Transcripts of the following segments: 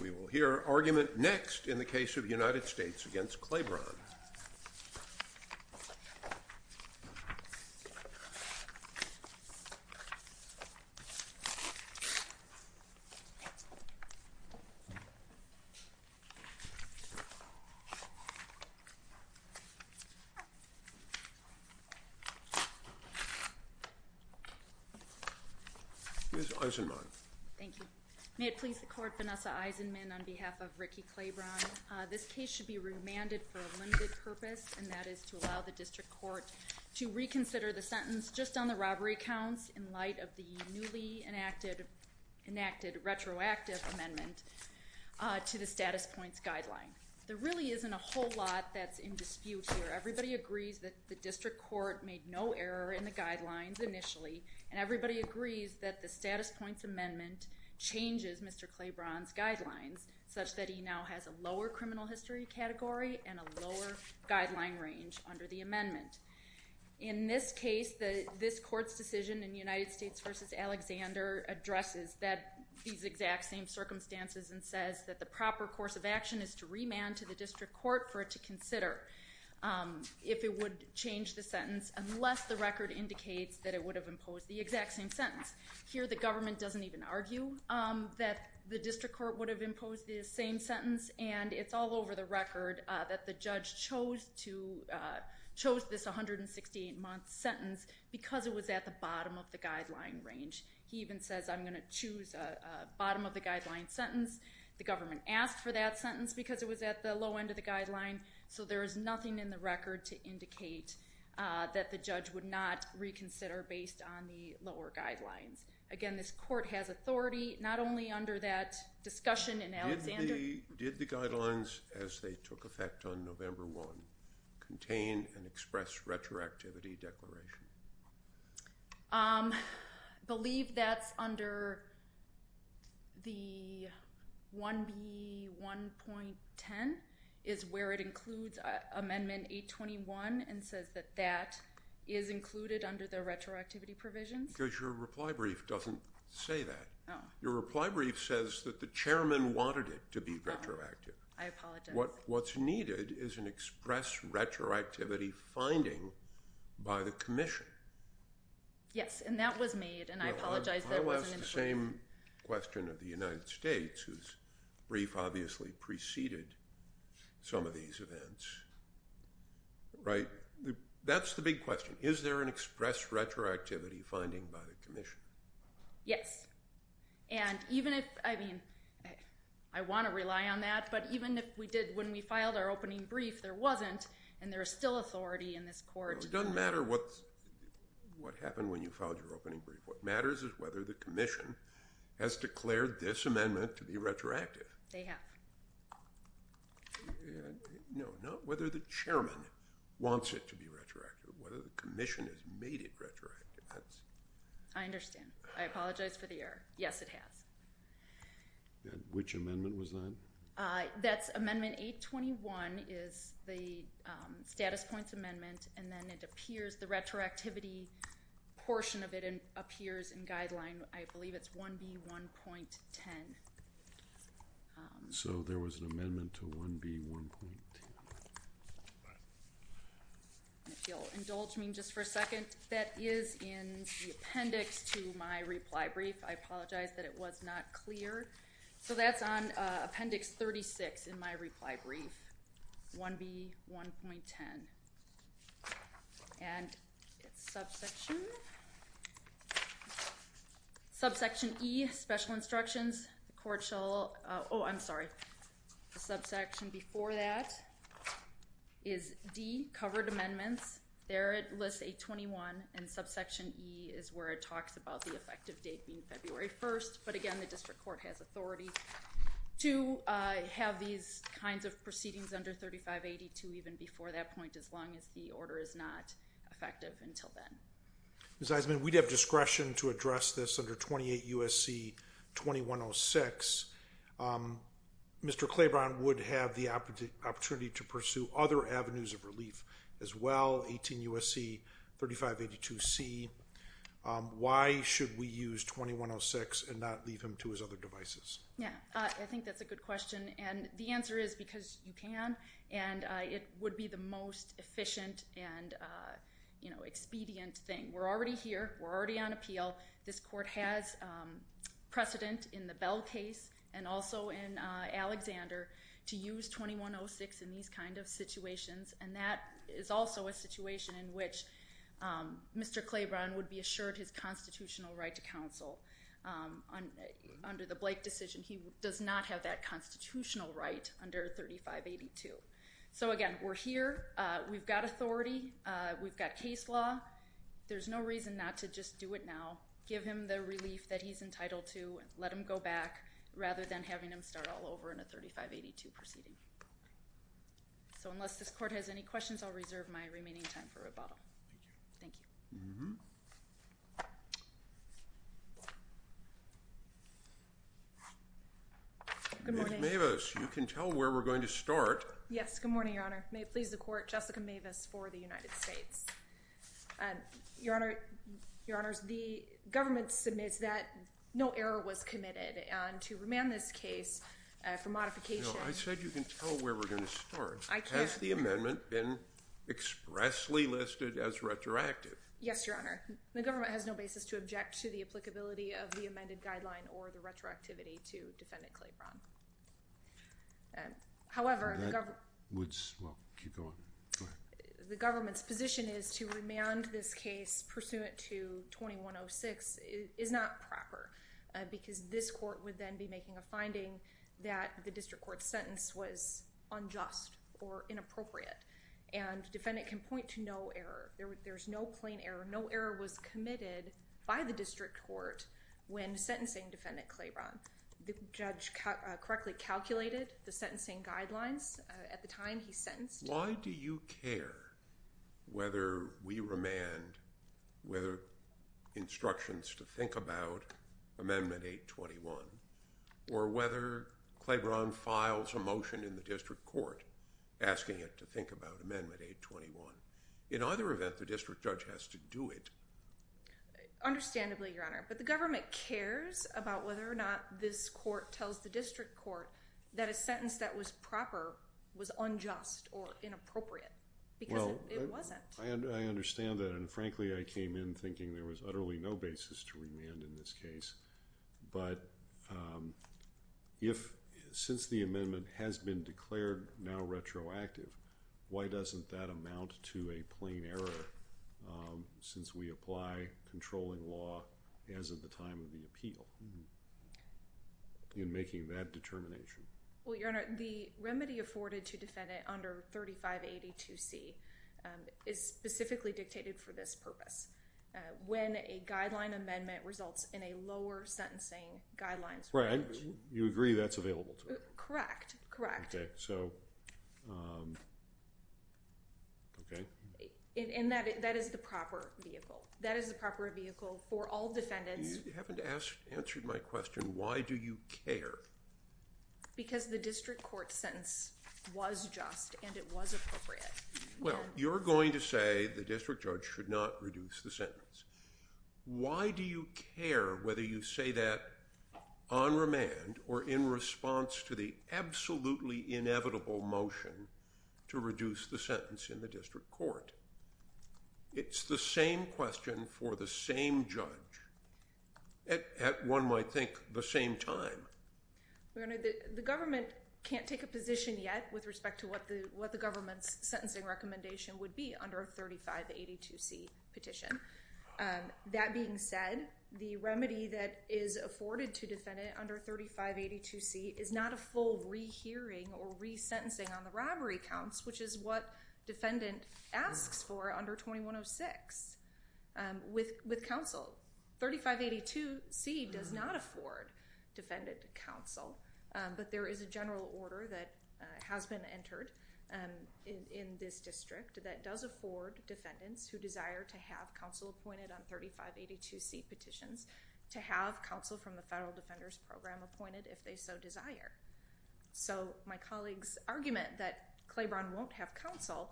We will hear argument next in the case of United States v. Claybron. Ms. Eisenman. Thank you. May it please the court, Vanessa Eisenman on behalf of Rickey Claybron. This case should be remanded for a limited purpose, and that is to allow the district court to reconsider the sentence just on the robbery counts in light of the newly enacted retroactive amendment to the status points guideline. There really isn't a whole lot that's in dispute here. Everybody agrees that the district court made no error in the guidelines initially, and everybody agrees that the status points amendment changes Mr. Claybron's guidelines such that he now has a lower criminal history category and a lower guideline range under the amendment. In this case, this court's decision in United States v. Alexander addresses these exact same circumstances and says that the proper course of action is to remand to the district court for it to consider if it would change the sentence unless the record indicates that it would have imposed the exact same sentence. Here the government doesn't even argue that the district court would have imposed the same sentence, and it's all over the record that the judge chose this 168-month sentence because it was at the bottom of the guideline range. He even says, I'm going to choose a bottom-of-the-guideline sentence. The government asked for that sentence because it was at the low end of the guideline, so there is nothing in the record to indicate that the judge would not reconsider based on the lower guidelines. Again, this court has authority not only under that discussion in Alexander. Did the guidelines as they took effect on November 1 contain an express retroactivity declaration? I believe that's under the 1B1.10 is where it includes Amendment 821 and says that that is included under the retroactivity provisions. Because your reply brief doesn't say that. Your reply brief says that the chairman wanted it to be retroactive. I apologize. What's needed is an express retroactivity finding by the commission. Yes, and that was made, and I apologize that it wasn't included. I'll ask the same question of the United States, whose brief obviously preceded some of these events. That's the big question. Is there an express retroactivity finding by the commission? Yes. I want to rely on that, but even if we did when we filed our opening brief, there wasn't, and there is still authority in this court. It doesn't matter what happened when you filed your opening brief. What matters is whether the commission has declared this amendment to be retroactive. They have. No, not whether the chairman wants it to be retroactive, whether the commission has made it retroactive. I understand. I apologize for the error. Yes, it has. Which amendment was that? That's amendment 821 is the status points amendment, and then it appears, the retroactivity portion of it appears in guideline, I believe it's 1B1.10. So there was an amendment to 1B1.10. If you'll indulge me just for a second, that is in the appendix to my reply brief. I apologize that it was not clear. So that's on appendix 36 in my reply brief, 1B1.10. And it's subsection E, special instructions. Oh, I'm sorry. The subsection before that is D, covered amendments. There it lists 821, and subsection E is where it talks about the effective date being February 1st. But, again, the district court has authority to have these kinds of proceedings under 3582 even before that point, as long as the order is not effective until then. Ms. Eisman, we'd have discretion to address this under 28 U.S.C. 2106. Mr. Claiborne would have the opportunity to pursue other avenues of relief as well, 18 U.S.C., 3582C. Why should we use 2106 and not leave him to his other devices? Yeah, I think that's a good question. And the answer is because you can, and it would be the most efficient and expedient thing. We're already here. We're already on appeal. This court has precedent in the Bell case and also in Alexander to use 2106 in these kind of situations, and that is also a situation in which Mr. Claiborne would be assured his constitutional right to counsel. Under the Blake decision, he does not have that constitutional right under 3582. So, again, we're here. We've got authority. We've got case law. There's no reason not to just do it now, give him the relief that he's entitled to, and let him go back rather than having him start all over in a 3582 proceeding. So unless this court has any questions, I'll reserve my remaining time for rebuttal. Thank you. Mm-hmm. Ms. Mavis, you can tell where we're going to start. Yes, good morning, Your Honor. May it please the Court, Jessica Mavis for the United States. Your Honor, the government submits that no error was committed, and to remand this case for modification. No, I said you can tell where we're going to start. I can. Has the amendment been expressly listed as retroactive? Yes, Your Honor. The government has no basis to object to the applicability of the amended guideline or the retroactivity to Defendant Claiborne. However, the government's position is to remand this case pursuant to 2106 is not proper because this court would then be making a finding that the district court's sentence was unjust or inappropriate. And defendant can point to no error. There's no plain error. No error was committed by the district court when sentencing Defendant Claiborne. The judge correctly calculated the sentencing guidelines at the time he sentenced. Why do you care whether we remand whether instructions to think about Amendment 821 or whether Claiborne files a motion in the district court asking it to think about Amendment 821? In either event, the district judge has to do it. Understandably, Your Honor, but the government cares about whether or not this court tells the district court that a sentence that was proper was unjust or inappropriate because it wasn't. I understand that, and frankly, I came in thinking there was utterly no basis to remand in this case. But since the amendment has been declared now retroactive, why doesn't that amount to a plain error since we apply controlling law as of the time of the appeal in making that determination? Well, Your Honor, the remedy afforded to Defendant under 3582C is specifically dictated for this purpose. When a guideline amendment results in a lower sentencing guidelines. You agree that's available to her? Correct, correct. Okay, so, okay. And that is the proper vehicle. That is the proper vehicle for all defendants. You haven't answered my question, why do you care? Because the district court sentence was just and it was appropriate. Well, you're going to say the district judge should not reduce the sentence. Why do you care whether you say that on remand or in response to the absolutely inevitable motion to reduce the sentence in the district court? It's the same question for the same judge at one might think the same time. Your Honor, the government can't take a position yet with respect to what the government's sentencing recommendation would be under a 3582C petition. That being said, the remedy that is afforded to Defendant under 3582C is not a full rehearing or resentencing on the robbery counts, which is what Defendant asks for under 2106. With counsel, 3582C does not afford Defendant counsel. But there is a general order that has been entered in this district that does afford Defendants who desire to have counsel appointed on 3582C petitions to have counsel from the Federal Defenders Program appointed if they so desire. So, my colleague's argument that Claiborne won't have counsel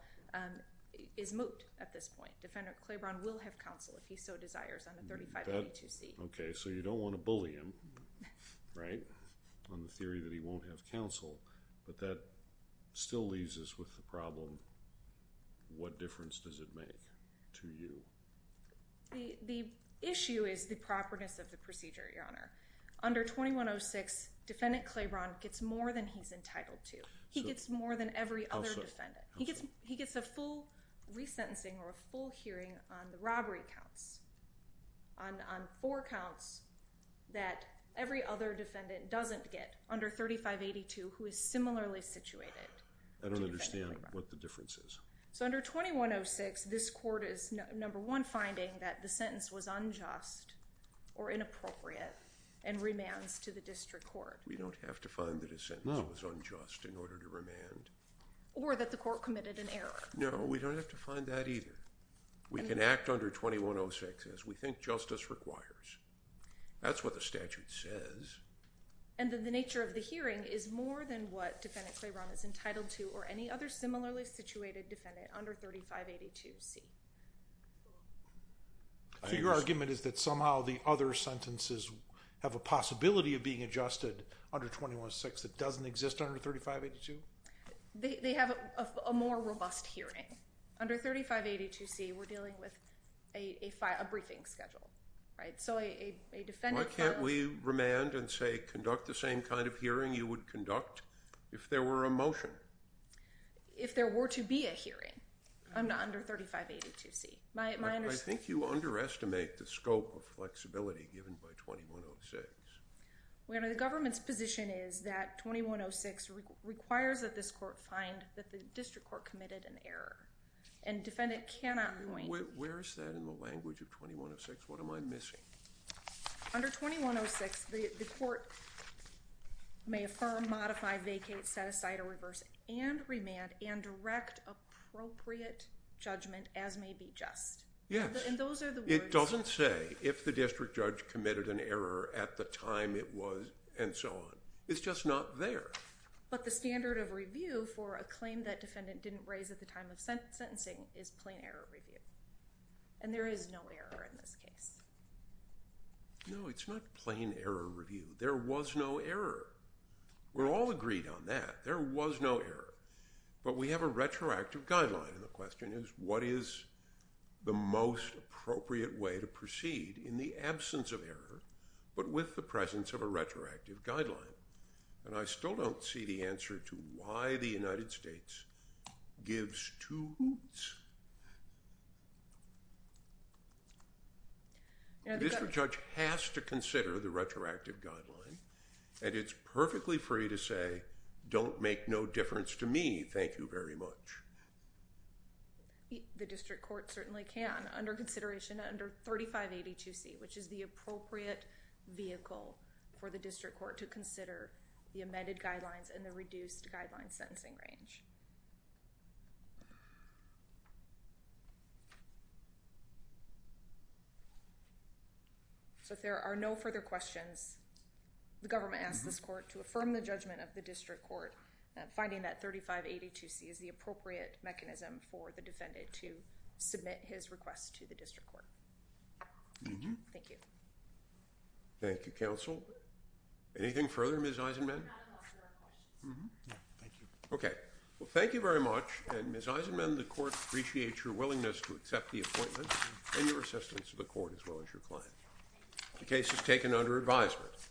is moot at this point. Defendant Claiborne will have counsel if he so desires on the 3582C. Okay, so you don't want to bully him, right, on the theory that he won't have counsel. But that still leaves us with the problem, what difference does it make to you? The issue is the properness of the procedure, Your Honor. Under 2106, Defendant Claiborne gets more than he's entitled to. He gets more than every other defendant. He gets a full resentencing or a full hearing on the robbery counts. On four counts that every other defendant doesn't get under 3582 who is similarly situated to Defendant Claiborne. I don't understand what the difference is. So under 2106, this court is, number one, finding that the sentence was unjust or inappropriate and remands to the district court. We don't have to find that a sentence was unjust in order to remand. Or that the court committed an error. No, we don't have to find that either. We can act under 2106 as we think justice requires. That's what the statute says. And then the nature of the hearing is more than what Defendant Claiborne is entitled to or any other similarly situated defendant under 3582C. So your argument is that somehow the other sentences have a possibility of being adjusted under 2106 that doesn't exist under 3582? They have a more robust hearing. Okay, under 3582C we're dealing with a briefing schedule. Why can't we remand and say conduct the same kind of hearing you would conduct if there were a motion? If there were to be a hearing under 3582C. I think you underestimate the scope of flexibility given by 2106. The government's position is that 2106 requires that this court find that the district court committed an error. And defendant cannot point... Where is that in the language of 2106? What am I missing? Under 2106 the court may affirm, modify, vacate, set aside, or reverse and remand and direct appropriate judgment as may be just. Yes. It doesn't say if the district judge committed an error at the time it was and so on. It's just not there. But the standard of review for a claim that defendant didn't raise at the time of sentencing is plain error review. And there is no error in this case. No, it's not plain error review. There was no error. We're all agreed on that. There was no error. But we have a retroactive guideline, and the question is what is the most appropriate way to proceed in the absence of error but with the presence of a retroactive guideline? And I still don't see the answer to why the United States gives two hoots. The district judge has to consider the retroactive guideline, and it's perfectly free to say, don't make no difference to me. Thank you very much. The district court certainly can under consideration under 3582C, which is the appropriate vehicle for the district court to consider the amended guidelines and the reduced guideline sentencing range. So if there are no further questions, the government asks this court to affirm the judgment of the district court, finding that 3582C is the appropriate mechanism for the defendant to submit his request to the district court. Thank you. Thank you, counsel. Anything further, Ms. Eisenman? Thank you. Okay. Well, thank you very much, and Ms. Eisenman, the court appreciates your willingness to accept the appointment and your assistance to the court as well as your client. The case is taken under advisement.